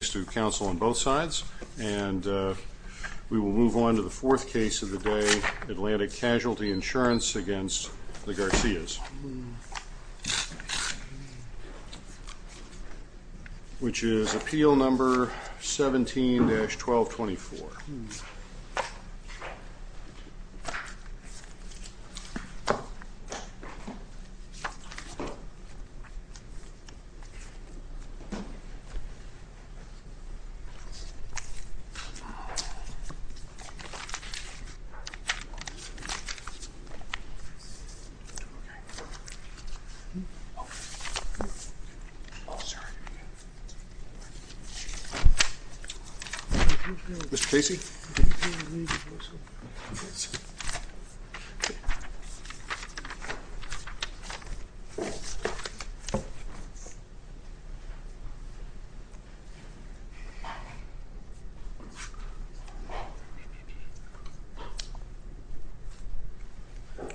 Thanks to counsel on both sides. And we will move on to the fourth case of the day, Atlantic Gardens stay within my reach this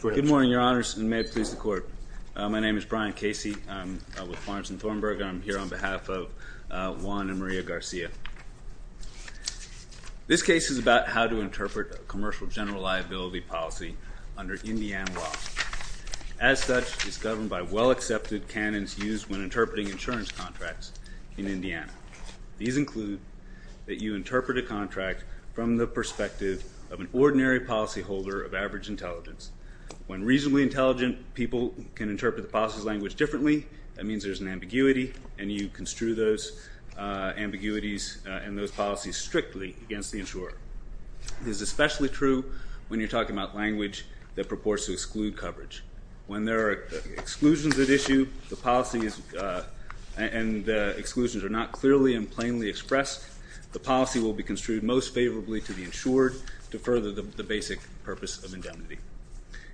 Good morning, your honors, and may it please the court. My name is Brian Casey. I'm with Florence and Thornburg, and I'm here on behalf of Juan and Maria Garcia. This case is about how to interpret a commercial general liability policy under Indiana law. As such, it's governed by well-accepted canons used when interpreting insurance contracts in Indiana. These include that you interpret a contract from the perspective of an ordinary policyholder of average intelligence. When reasonably intelligent people can interpret the policy's language differently, that means there's an ambiguity, and you construe those ambiguities and those policies strictly against the insurer. This is especially true when you're talking about language that purports to exclude coverage. When there are exclusions at issue and the exclusions are not clearly and plainly expressed, the policy will be construed most favorably to the insured to further the basic purpose of indemnity.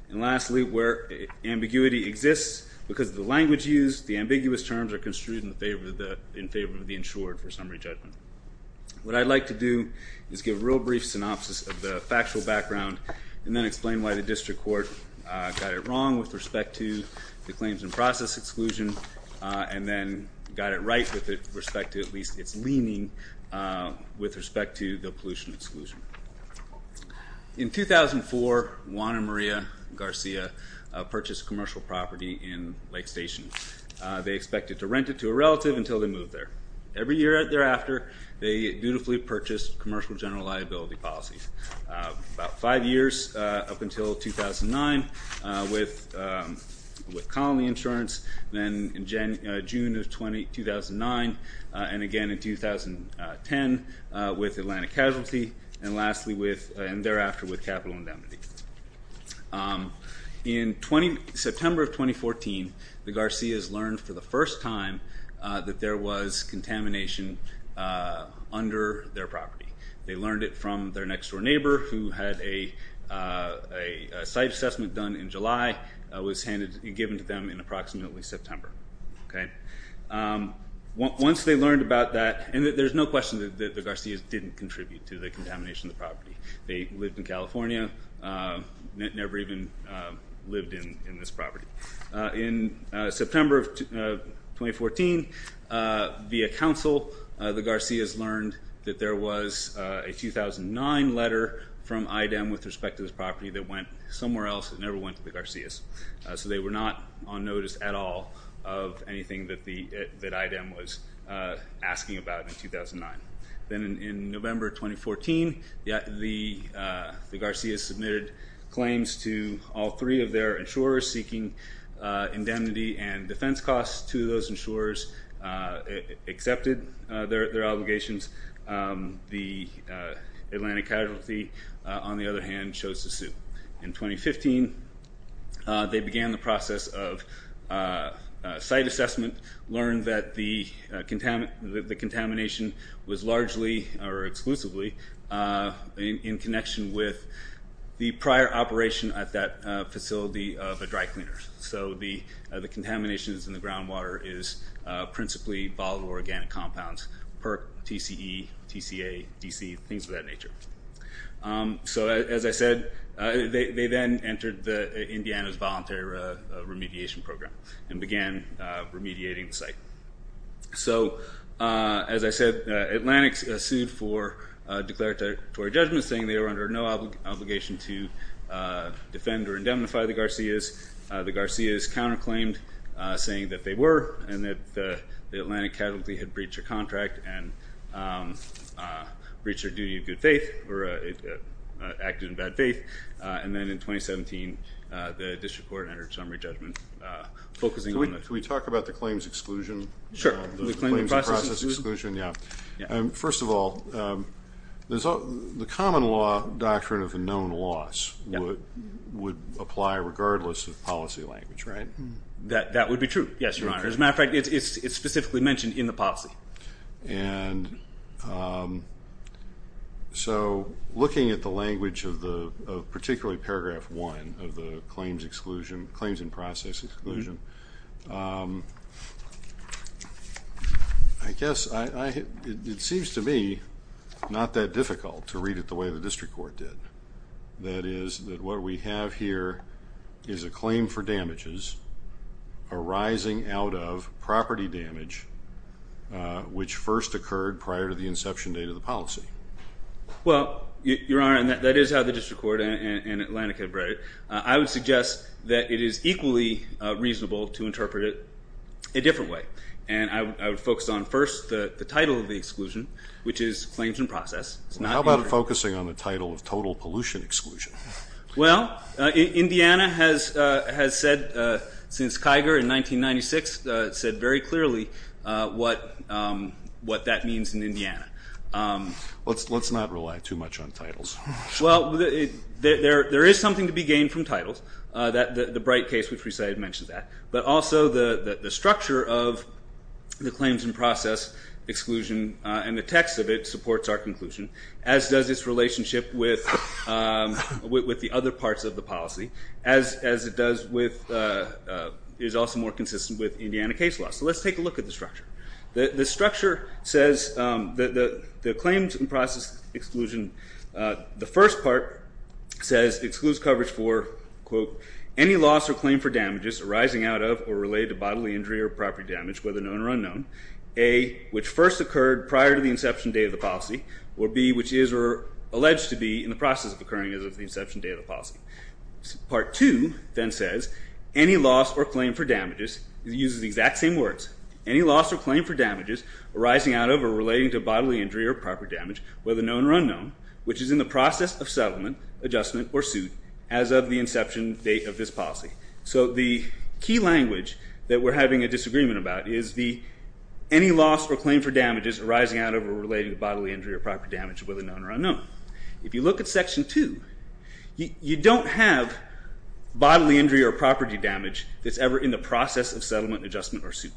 And lastly, where ambiguity exists because of the language used, the ambiguous terms are construed in favor of the insured for summary judgment. What I'd like to do is give a real brief synopsis of the factual background and then explain why the district court got it wrong with respect to the claims and process exclusion and then got it right with respect to at least its leaning with respect to the pollution exclusion. In 2004, Juan and Maria Garcia purchased commercial property in Lake Station. They expected to rent it to a relative until they moved there. Every year thereafter, they dutifully purchased commercial general liability policies. About five years up until 2009 with colony insurance, then in June of 2009, and again in 2010 with Atlantic Casualty, and lastly with and thereafter with capital indemnity. In September of 2014, the Garcias learned for the first time that there was contamination under their property. They learned it from their next door neighbor who had a site assessment done in July, was handed and given to them in approximately September. Once they learned about that, and there's no question that the Garcias didn't contribute to the contamination of the property. They lived in California, never even lived in this property. In September of 2014, via counsel, the Garcias learned that there was a 2009 letter from IDEM with respect to this property that went somewhere else. It never went to the Garcias. So they were not on notice at all of anything that IDEM was asking about in 2009. Then in November 2014, the Garcias submitted claims to all three of their insurers seeking indemnity and defense costs. Two of those insurers accepted their obligations. The Atlantic Casualty, on the other hand, chose to sue. In 2015, they began the process of site assessment, learned that the contamination was largely or exclusively in connection with the prior operation at that facility of a dry cleaner. So the contaminations in the groundwater is principally volatile organic compounds, PERC, TCE, TCA, DC, things of that nature. So, as I said, they then entered Indiana's voluntary remediation program and began remediating the site. So as I said, Atlantic sued for declaratory judgment saying they were under no obligation to defend or indemnify the Garcias. The Garcias counterclaimed saying that they were and that the Atlantic Casualty had breached a contract and breached their duty of good faith, or acted in bad faith. And then in 2017, the district court entered summary judgment focusing on the- Can we talk about the claims exclusion? Sure. The claims and process exclusion? The claims and process exclusion, yeah. Yeah. First of all, the common law doctrine of known loss would apply regardless of policy language, right? That would be true. Yes, Your Honor. As a matter of fact, it's specifically mentioned in the policy. And so looking at the language of particularly paragraph one of the claims exclusion, claims and process exclusion, I guess it seems to me not that difficult to read it the way the district court did. That is, that what we have here is a claim for damages arising out of property damage which first occurred prior to the inception date of the policy. Well, Your Honor, and that is how the district court and Atlantic have read it. I would suggest that it is equally reasonable to interpret it a different way. And I would focus on first the title of the exclusion, which is claims and process. How about focusing on the title of total pollution exclusion? Well, Indiana has said since Kiger in 1996, said very clearly what that means in Indiana. Let's not rely too much on titles. Well, there is something to be gained from titles, the Bright case which we said mentioned that. But also the structure of the claims and process exclusion and the text of it supports our conclusion, as does its relationship with the other parts of the policy, as it does with, is also more consistent with Indiana case law. So let's take a look at the structure. The structure says, the claims and process exclusion, the first part says, excludes coverage for, quote, any loss or claim for damages arising out of or related to bodily injury or property damage, whether known or unknown, A, which first occurred prior to the inception date of the policy, or B, which is or alleged to be in the process of occurring as of the inception date of the policy. Part 2 then says, any loss or claim for damages, uses the exact same words, any loss or claim for damages arising out of or relating to bodily injury or property damage, whether known or unknown, which is in the process of settlement, adjustment, or suit, as of the inception date of this policy. So the key language that we're having a disagreement about is the, any loss or claim for damages arising out of or relating to bodily injury or property damage, whether known or unknown. If you look at Section 2, you don't have bodily injury or property damage that's ever in the process of settlement, adjustment, or suit.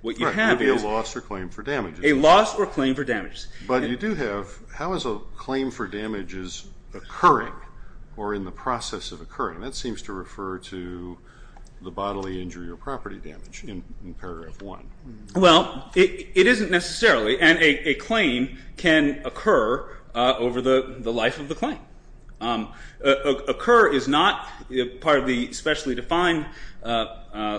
What you have is a loss or claim for damages. But you do have, how is a claim for damages occurring or in the process of occurring? That seems to refer to the bodily injury or property damage in paragraph 1. Well, it isn't necessarily, and a claim can occur over the life of the claim. Occur is not part of the specially defined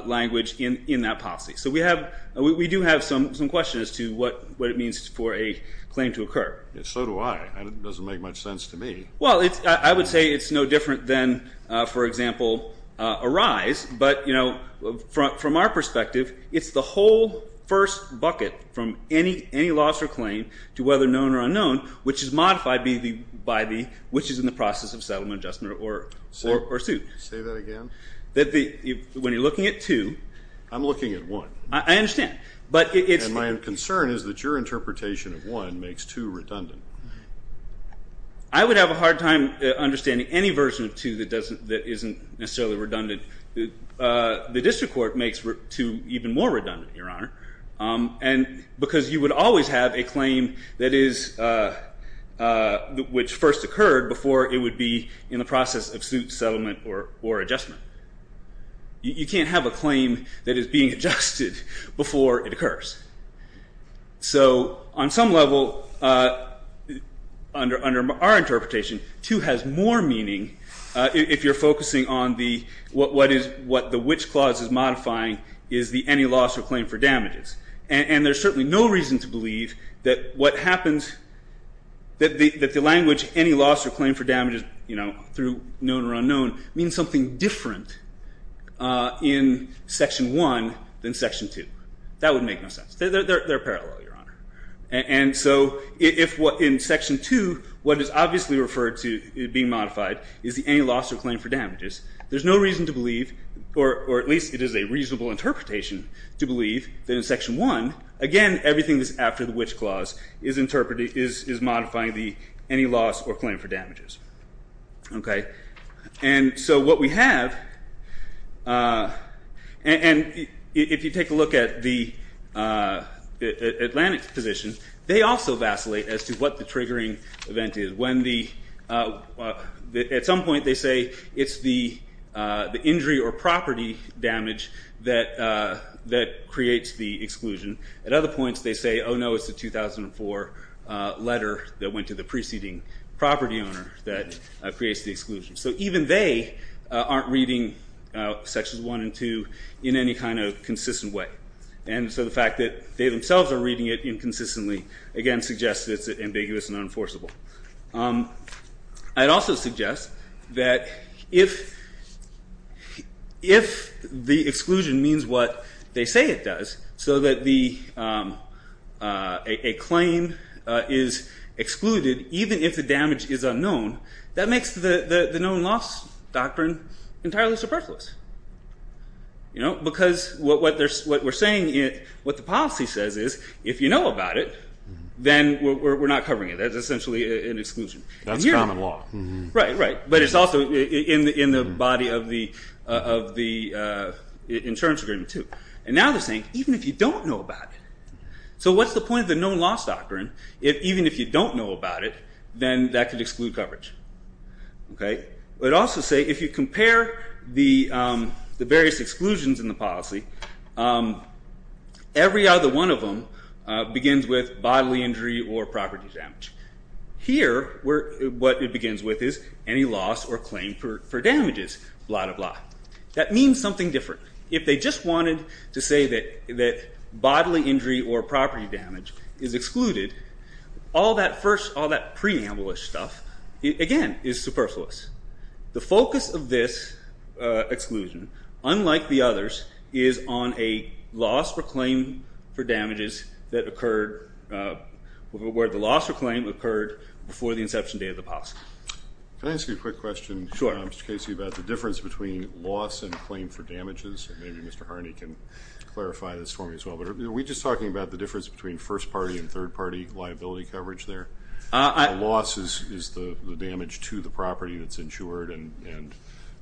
language in that policy. So we have, we do have some questions as to what it means for a claim to occur. So do I. It doesn't make much sense to me. Well, I would say it's no different than, for example, arise, but from our perspective, it's the whole first bucket from any loss or claim to whether known or unknown, which is modified by the, which is in the process of settlement, adjustment, or suit. Say that again. That the, when you're looking at 2. I'm looking at 1. I understand. But it's. And my concern is that your interpretation of 1 makes 2 redundant. I would have a hard time understanding any version of 2 that doesn't, that isn't necessarily redundant. The district court makes 2 even more redundant, Your Honor. And because you would always have a claim that is, which first occurred before it would be in the process of suit, settlement, or adjustment. You can't have a claim that is being adjusted before it occurs. So on some level, under our interpretation, 2 has more meaning if you're focusing on the, what is, what the which clause is modifying is the any loss or claim for damages. And there's certainly no reason to believe that what happens, that the language any loss or claim for damages, you know, through known or unknown, means something different in Section 1 than Section 2. That would make no sense. They're parallel, Your Honor. And so if what, in Section 2, what is obviously referred to being modified is the any loss or claim for damages. There's no reason to believe, or at least it is a reasonable interpretation to believe that in Section 1, again, everything that's after the which clause is interpreting, is modifying the any loss or claim for damages, okay? And so what we have, and if you take a look at the Atlantic position, they also vacillate as to what the triggering event is. When the, at some point they say it's the injury or property damage that creates the exclusion. At other points they say, oh no, it's the 2004 letter that went to the preceding property owner that creates the exclusion. So even they aren't reading Sections 1 and 2 in any kind of consistent way. And so the fact that they themselves are reading it inconsistently, again, suggests it's ambiguous and unenforceable. I'd also suggest that if the exclusion means what they say it does, so that a claim is excluded even if the damage is unknown, that makes the known loss doctrine entirely superfluous. Because what we're saying, what the policy says is, if you know about it, then we're not covering it. That's essentially an exclusion. That's common law. Right, right. But it's also in the body of the insurance agreement too. And now they're saying, even if you don't know about it. So what's the point of the known loss doctrine? Even if you don't know about it, then that could exclude coverage, okay? But also say, if you compare the various exclusions in the policy, every other one of them begins with bodily injury or property damage. Here what it begins with is any loss or claim for damages, blah, blah, blah. That means something different. If they just wanted to say that bodily injury or property damage is excluded, all that first, all that preamble-ish stuff, again, is superfluous. The focus of this exclusion, unlike the others, is on a loss or claim for damages that occurred where the loss or claim occurred before the inception date of the policy. Can I ask you a quick question, Mr. Casey, about the difference between loss and claim for damages? Maybe Mr. Harney can clarify this for me as well. Are we just talking about the difference between first party and third party liability coverage there? The loss is the damage to the property that's insured and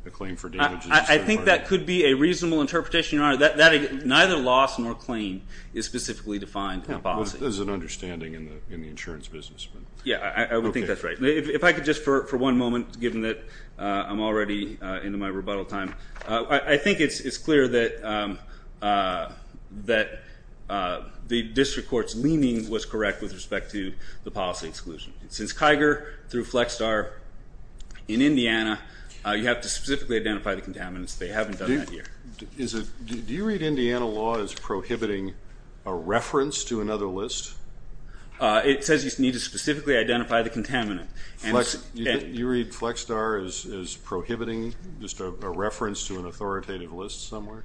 the claim for damages is the third party. I think that could be a reasonable interpretation, Your Honor. Neither loss nor claim is specifically defined in the policy. There's an understanding in the insurance business. Yeah, I would think that's right. If I could just, for one moment, given that I'm already into my rebuttal time, I think it's clear that the district court's leaning was correct with respect to the policy exclusion. Since Kiger through Flexstar in Indiana, you have to specifically identify the contaminants. They haven't done that here. Do you read Indiana law as prohibiting a reference to another list? It says you need to specifically identify the contaminant. You read Flexstar as prohibiting just a reference to an authoritative list somewhere?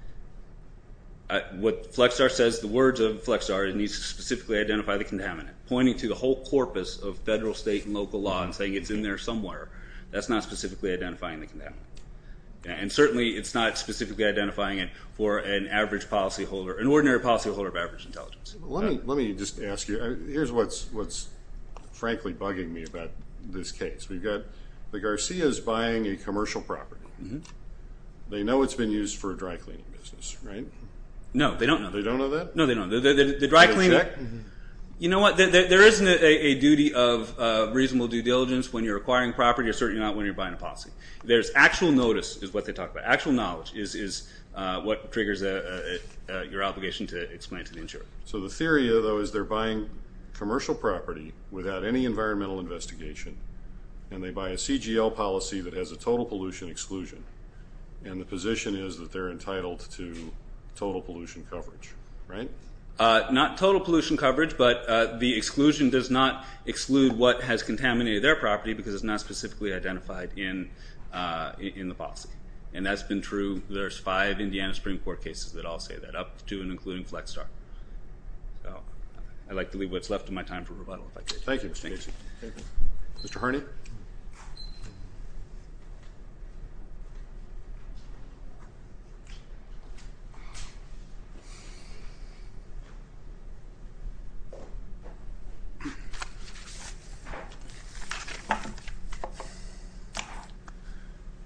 What Flexstar says, the words of Flexstar, it needs to specifically identify the contaminant. Pointing to the whole corpus of federal, state, and local law and saying it's in there somewhere, that's not specifically identifying the contaminant. And certainly, it's not specifically identifying it for an average policyholder, an ordinary policyholder of average intelligence. Let me just ask you, here's what's frankly bugging me about this case. We've got the Garcias buying a commercial property. They know it's been used for a dry cleaning business, right? No, they don't know. They don't know that? No, they don't. The dry cleaning... Do they check? You know what? not when you're buying a policy. There's actual notice is what they talk about. Actual knowledge is what triggers your obligation to explain it to the insurer. So the theory, though, is they're buying commercial property without any environmental investigation, and they buy a CGL policy that has a total pollution exclusion, and the position is that they're entitled to total pollution coverage, right? Not total pollution coverage, but the exclusion does not exclude what has contaminated their in the policy, and that's been true. There's five Indiana Supreme Court cases that all say that, up to and including Flexstar. I'd like to leave what's left of my time for rebuttal, if I could. Thank you, Mr. Casey. Thank you. Mr. Harney?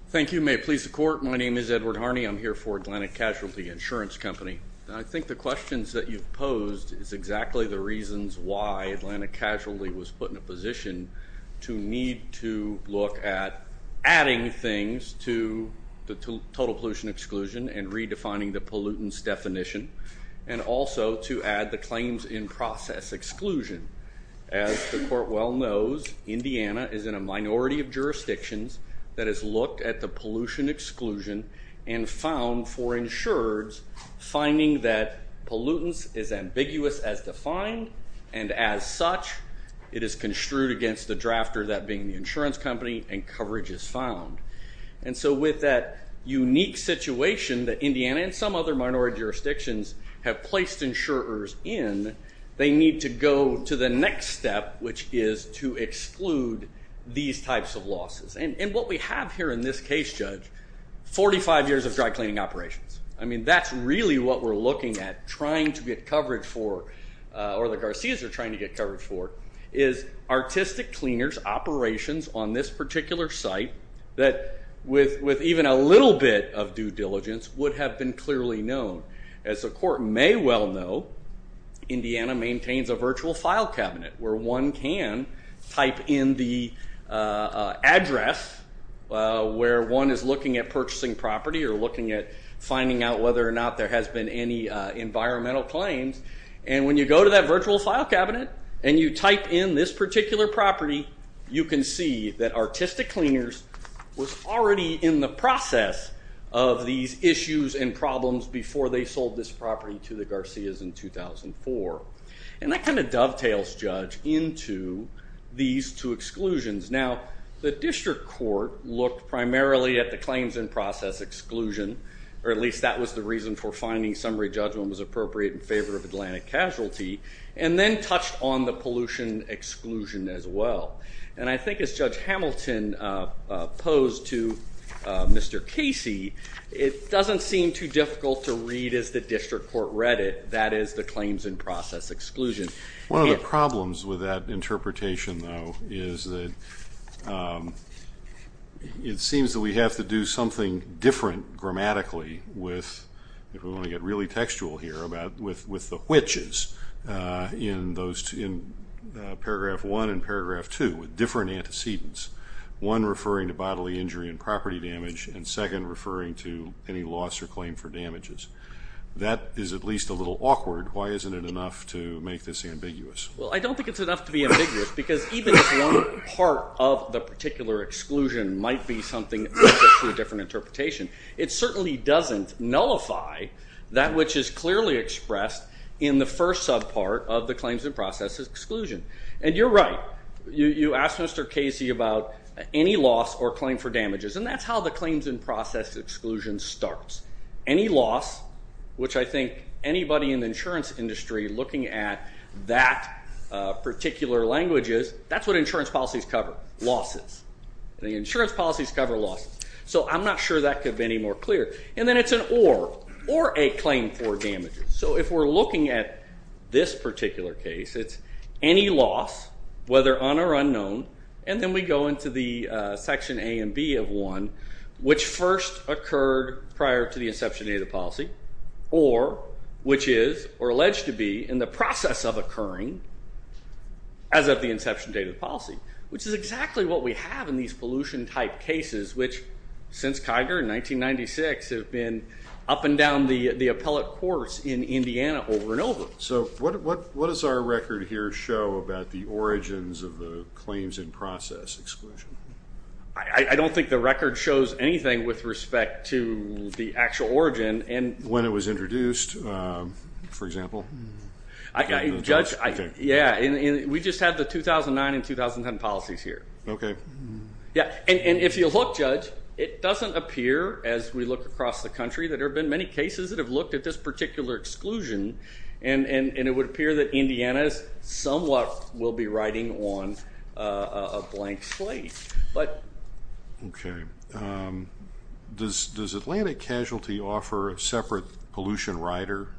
Thank you. May it please the court. My name is Edward Harney. I'm here for Atlantic Casualty Insurance Company. I think the questions that you've posed is exactly the reasons why Atlantic Casualty was put in a position to need to look at adding things to the total pollution exclusion and redefining the pollutants definition, and also to add the claims in process exclusion. As the court well knows, Indiana is in a minority of jurisdictions that has looked at the pollution exclusion and found for insurers, finding that pollutants is ambiguous as defined, and as such, it is construed against the drafter, that being the insurance company, and coverage is found. And so with that unique situation that Indiana and some other minority jurisdictions have need to go to the next step, which is to exclude these types of losses. And what we have here in this case, Judge, 45 years of dry cleaning operations. I mean, that's really what we're looking at trying to get coverage for, or the Garcia's are trying to get coverage for, is artistic cleaners, operations on this particular site that with even a little bit of due diligence would have been clearly known. As the court may well know, Indiana maintains a virtual file cabinet where one can type in the address where one is looking at purchasing property or looking at finding out whether or not there has been any environmental claims, and when you go to that virtual file cabinet and you type in this particular property, you can see that artistic cleaners was already in the process of these issues and problems before they sold this property to the Garcia's in 2004. And that kind of dovetails, Judge, into these two exclusions. Now the district court looked primarily at the claims in process exclusion, or at least that was the reason for finding summary judgment was appropriate in favor of Atlantic casualty, and then touched on the pollution exclusion as well. And I think as Judge Hamilton posed to Mr. Casey, it doesn't seem too difficult to read as the district court read it, that is the claims in process exclusion. One of the problems with that interpretation, though, is that it seems that we have to do something different grammatically with, if we want to get really textual here, with the paragraph one and paragraph two, with different antecedents. One referring to bodily injury and property damage, and second referring to any loss or claim for damages. That is at least a little awkward. Why isn't it enough to make this ambiguous? Well, I don't think it's enough to be ambiguous, because even if one part of the particular exclusion might be something different interpretation, it certainly doesn't nullify that which is exclusion. And you're right. You asked Mr. Casey about any loss or claim for damages, and that's how the claims in process exclusion starts. Any loss, which I think anybody in the insurance industry looking at that particular language is, that's what insurance policies cover, losses. The insurance policies cover losses. So I'm not sure that could be any more clear. And then it's an or, or a claim for damages. So if we're looking at this particular case, it's any loss, whether on or unknown, and then we go into the section A and B of 1, which first occurred prior to the inception date of the policy, or which is, or alleged to be, in the process of occurring as of the inception date of the policy, which is exactly what we have in these pollution type cases, which since Kiger in 1996 have been up and down the appellate course in Indiana over and over. So what does our record here show about the origins of the claims in process exclusion? I don't think the record shows anything with respect to the actual origin. And when it was introduced, for example? Judge, I, yeah, we just had the 2009 and 2010 policies here. Okay. Yeah. And if you look, Judge, it doesn't appear, as we look across the country, that there have been many cases that have looked at this particular exclusion, and it would appear that Indiana somewhat will be riding on a blank slate. But... Okay. Does Atlantic Casualty offer a separate pollution rider?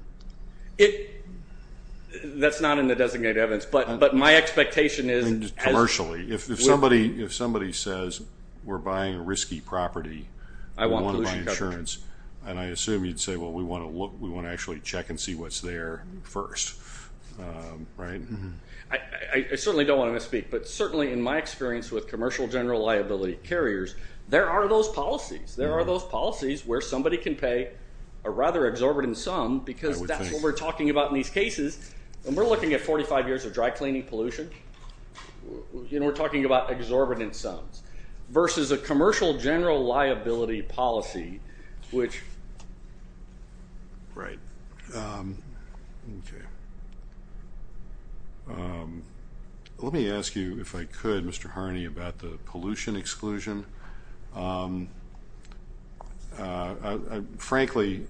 That's not in the designated evidence, but my expectation is... Commercially. Commercially. If somebody says, we're buying a risky property, we want to buy insurance, and I assume you'd say, well, we want to actually check and see what's there first, right? I certainly don't want to misspeak, but certainly in my experience with commercial general liability carriers, there are those policies. There are those policies where somebody can pay a rather exorbitant sum, because that's what we're talking about in these cases, and we're looking at 45 years of dry cleaning pollution. You know, we're talking about exorbitant sums, versus a commercial general liability policy, which... Right. Okay. Let me ask you, if I could, Mr. Harney, about the pollution exclusion. Frankly,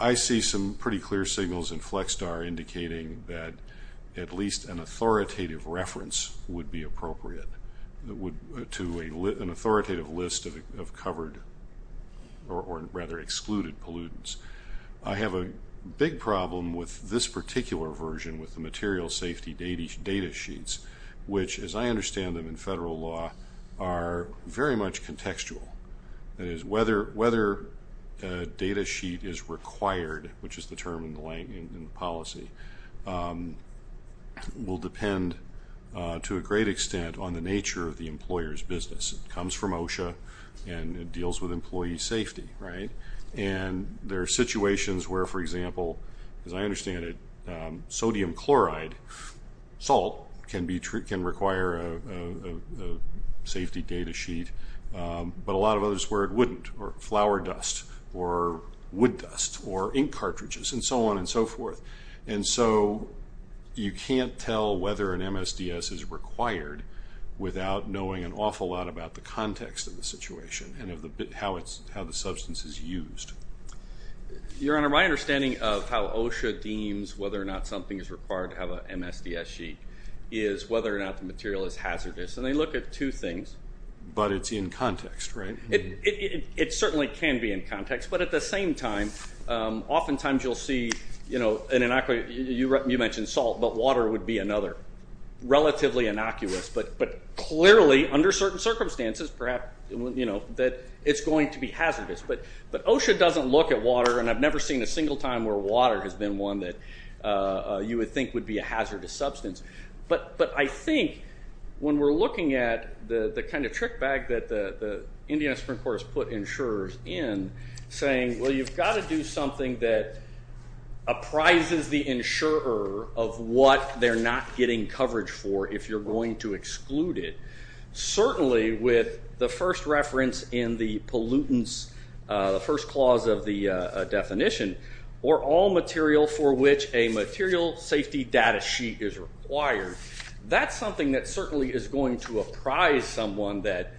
I see some pretty clear signals in Flexstar indicating that at least an authoritative reference would be appropriate to an authoritative list of covered, or rather, excluded pollutants. I have a big problem with this particular version, with the material safety data sheets, which, as I understand them in federal law, are very much contextual. That is, whether a data sheet is required, which is the term in the policy, will depend to a great extent on the nature of the employer's business. It comes from OSHA, and it deals with employee safety, right? And there are situations where, for example, as I understand it, sodium chloride salt can require a safety data sheet, but a lot of others where it wouldn't, or flour dust, or wood dust, or ink cartridges, and so on and so forth. And so, you can't tell whether an MSDS is required without knowing an awful lot about the context of the situation, and how the substance is used. Your Honor, my understanding of how OSHA deems whether or not something is required to have an MSDS sheet is whether or not the material is hazardous, and they look at two things. But it's in context, right? It certainly can be in context, but at the same time, oftentimes you'll see, you know, an inoculate... You mentioned salt, but water would be another, relatively innocuous, but clearly, under certain circumstances, perhaps, you know, that it's going to be hazardous. But OSHA doesn't look at water, and I've never seen a single time where water has been one that you would think would be a hazardous substance. But I think when we're looking at the kind of trick bag that the Indiana Supreme Court has put insurers in, saying, well, you've got to do something that apprises the insurer of what they're not getting coverage for if you're going to exclude it, certainly with the first reference in the pollutants, the first clause of the definition, or all material for which a material safety data sheet is required, that's something that certainly is going to apprise someone that...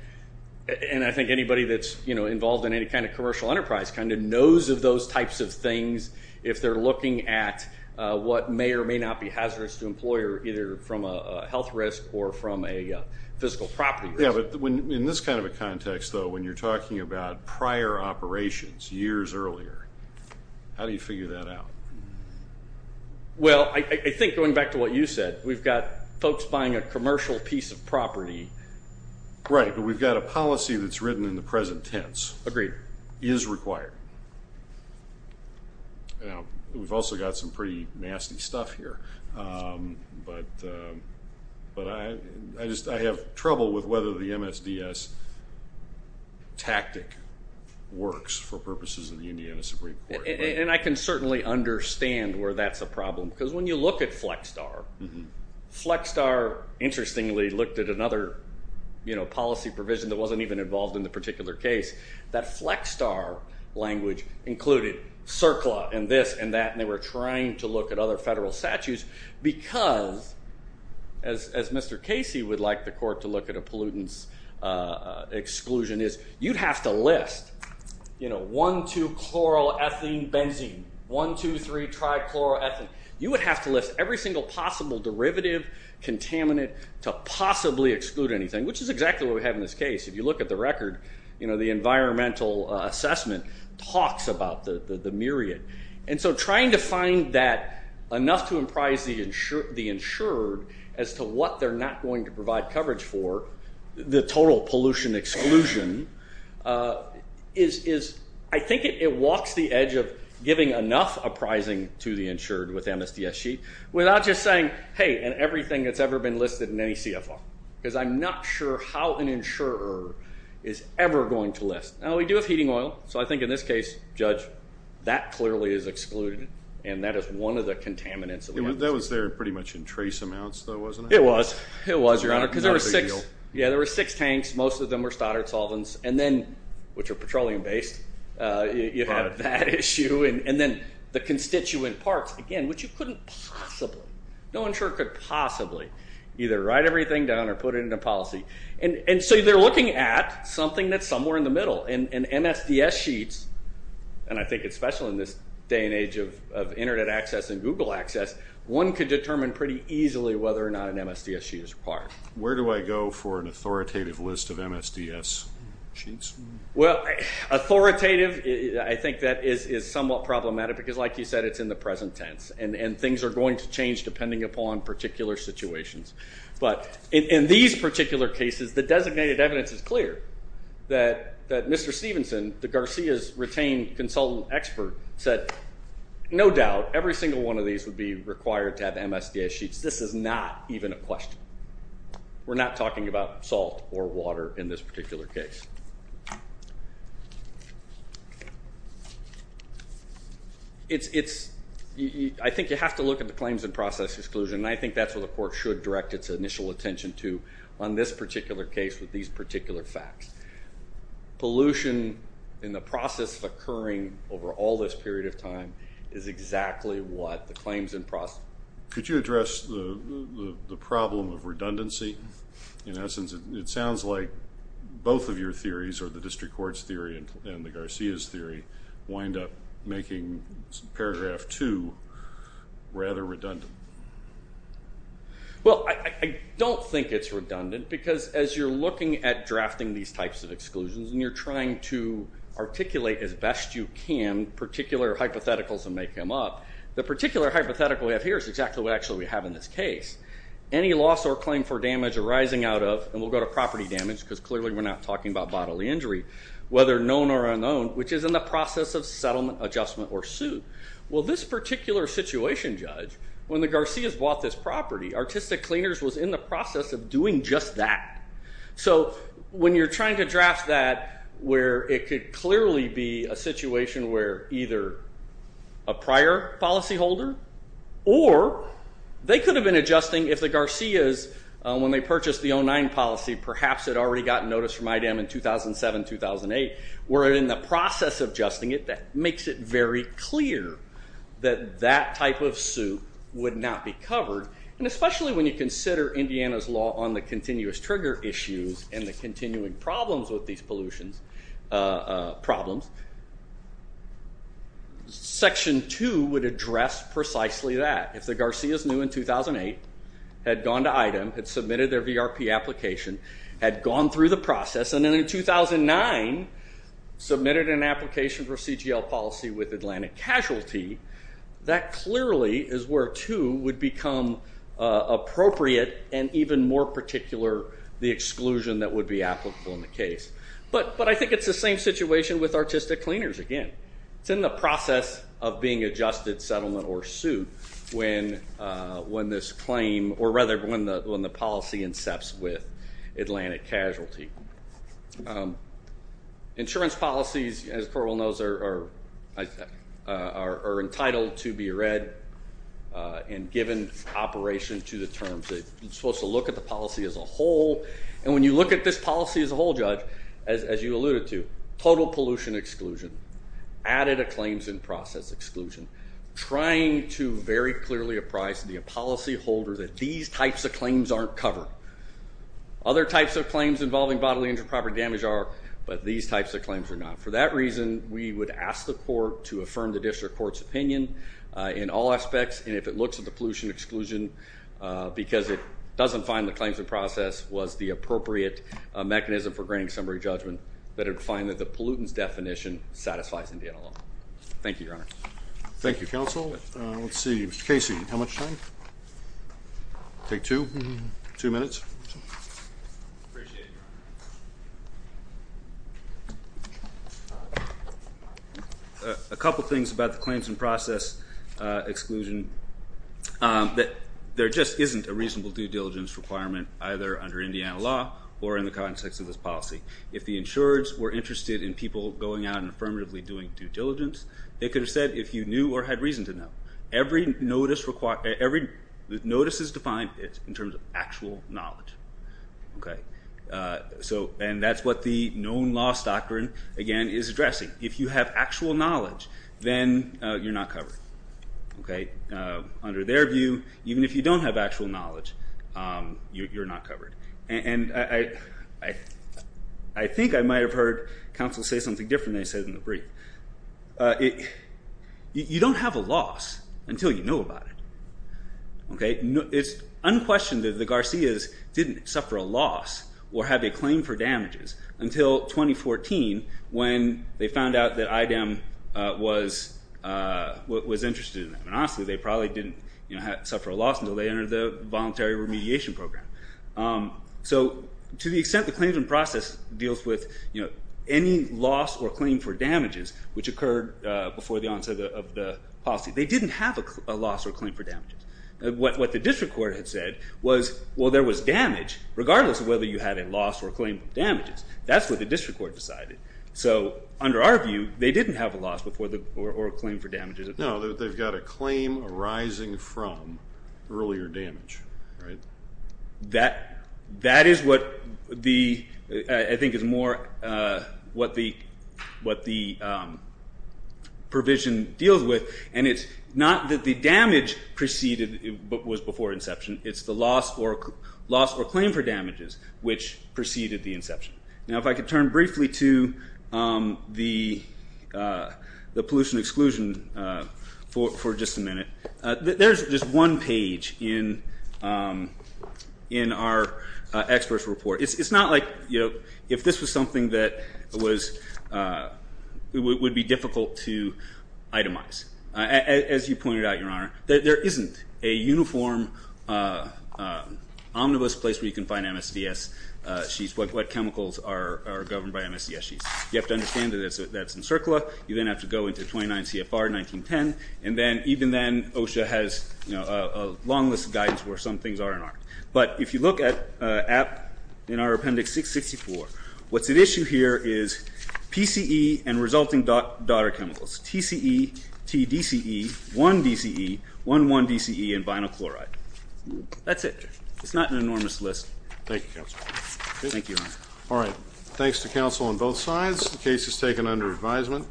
And I think anybody that's, you know, involved in any kind of commercial enterprise kind of knows of those types of things if they're looking at what may or may not be hazardous to an employer, either from a health risk or from a physical property risk. Yeah, but in this kind of a context, though, when you're talking about prior operations, years earlier, how do you figure that out? Well, I think going back to what you said, we've got folks buying a commercial piece of property. Right, but we've got a policy that's written in the present tense. Agreed. Is required. We've also got some pretty nasty stuff here, but I have trouble with whether the MSDS tactic works for purposes of the Indiana Supreme Court. And I can certainly understand where that's a problem, because when you look at FlexStar, FlexStar, interestingly, looked at another policy provision that wasn't even involved in the particular case. That FlexStar language included CERCLA and this and that, and they were trying to look at other federal statutes because, as Mr. Casey would like the court to look at a pollutants exclusion is, you'd have to list, you know, one, two, chloroethylene, benzene, one, two, three, trichloroethylene. You would have to list every single possible derivative, contaminant to possibly exclude anything, which is exactly what we have in this case. If you look at the record, you know, the environmental assessment talks about the myriad. And so trying to find that enough to imprise the insurer as to what they're not going to do with the total pollution exclusion is, I think it walks the edge of giving enough apprising to the insured with MSDS sheet, without just saying, hey, and everything that's ever been listed in any CFR, because I'm not sure how an insurer is ever going to list. Now, we do have heating oil. So I think in this case, Judge, that clearly is excluded, and that is one of the contaminants of the MSDS. That was there pretty much in trace amounts, though, wasn't it? It was. It was, Your Honor. Not a big deal. Yeah, there were six tanks. Most of them were stoddard solvents. And then, which are petroleum-based, you have that issue. And then the constituent parts, again, which you couldn't possibly, no insurer could possibly either write everything down or put it into policy. And so they're looking at something that's somewhere in the middle. And MSDS sheets, and I think it's special in this day and age of internet access and Google access, one could determine pretty easily whether or not an MSDS sheet is required. Where do I go for an authoritative list of MSDS sheets? Well, authoritative, I think that is somewhat problematic, because like you said, it's in the present tense, and things are going to change depending upon particular situations. But in these particular cases, the designated evidence is clear that Mr. Stevenson, the Garcia's retained consultant expert, said, no doubt, every single one of these would be required to have MSDS sheets. This is not even a question. We're not talking about salt or water in this particular case. I think you have to look at the claims in process exclusion, and I think that's what the court should direct its initial attention to on this particular case with these particular facts. Pollution in the process of occurring over all this period of time is exactly what the claims in process. Could you address the problem of redundancy? In essence, it sounds like both of your theories, or the district court's theory and the Garcia's theory, wind up making paragraph two rather redundant. Well, I don't think it's redundant, because as you're looking at drafting these types of exclusions, and you're trying to articulate as best you can particular hypotheticals and figures, exactly what actually we have in this case. Any loss or claim for damage arising out of, and we'll go to property damage, because clearly we're not talking about bodily injury, whether known or unknown, which is in the process of settlement, adjustment, or suit. Well, this particular situation, Judge, when the Garcia's bought this property, Artistic Cleaners was in the process of doing just that. So when you're trying to draft that where it could clearly be a situation where either a prior policy holder, or they could have been adjusting if the Garcia's, when they purchased the 09 policy, perhaps had already gotten notice from IDEM in 2007, 2008, were in the process of adjusting it, that makes it very clear that that type of suit would not be covered, and especially when you consider Indiana's law on the continuous trigger issues and the continuing problems with these pollution problems, Section 2 would address precisely that. If the Garcia's knew in 2008, had gone to IDEM, had submitted their VRP application, had gone through the process, and then in 2009 submitted an application for CGL policy with Atlantic Casualty, that clearly is where 2 would become appropriate, and even more particular, the exclusion that would be applicable in the case. But I think it's the same situation with Artistic Cleaners again. It's in the process of being adjusted, settlement, or suit when this claim, or rather when the policy incepts with Atlantic Casualty. Insurance policies, as the Court will know, are entitled to be read and given operation to the terms. It's supposed to look at the policy as a whole, and when you look at this policy as a whole, Judge, as you alluded to, total pollution exclusion, added claims in process exclusion, trying to very clearly apprise the policyholder that these types of claims aren't covered. Other types of claims involving bodily injury, property damage are, but these types of claims are not. For that reason, we would ask the Court to affirm the District Court's opinion in all that it doesn't find the claims in process was the appropriate mechanism for granting summary judgment, that it would find that the pollutants definition satisfies Indiana Thank you, Your Honor. Thank you, Counsel. Let's see. Mr. Casey, how much time? Take two? Mm-hmm. Two minutes? Appreciate it, Your Honor. A couple things about the claims in process exclusion. There just isn't a reasonable due diligence requirement, either under Indiana law or in the context of this policy. If the insurers were interested in people going out and affirmatively doing due diligence, they could have said if you knew or had reason to know. Every notice is defined in terms of actual knowledge. That's what the known loss doctrine, again, is addressing. If you have actual knowledge, then you're not covered. Under their view, even if you don't have actual knowledge, you're not covered. I think I might have heard counsel say something different than he said in the brief. You don't have a loss until you know about it. It's unquestioned that the Garcias didn't suffer a loss or have a claim for damages until 2014, when they found out that IDEM was interested in them. Honestly, they probably didn't suffer a loss until they entered the voluntary remediation program. To the extent the claims in process deals with any loss or claim for damages, which occurred before the onset of the policy, they didn't have a loss or claim for damages. What the district court had said was, well, there was damage, regardless of whether you had a loss or claim for damages. That's what the district court decided. Under our view, they didn't have a loss or claim for damages. No, they've got a claim arising from earlier damage. That is what I think is more what the provision deals with. It's not that the damage preceded, but was before inception. It's the loss or claim for damages, which preceded the inception. Now, if I could turn briefly to the pollution exclusion for just a minute. There's just one page in our expert's report. It's not like if this was something that would be difficult to itemize. As you pointed out, Your Honor, there isn't a uniform, omnibus place where you can find MSDS sheets, what chemicals are governed by MSDS sheets. You have to understand that that's in CERCLA. You then have to go into 29 CFR 1910. Even then, OSHA has a long list of guidance where some things are and aren't. But if you look in our appendix 664, what's at issue here is PCE and resulting daughter chemicals, TCE, TDCE, 1DCE, 1,1DCE, and vinyl chloride. That's it. It's not an enormous list. Thank you, Counsel. Thank you, Your Honor. All right. Thanks to counsel on both sides. The case is taken under advisement.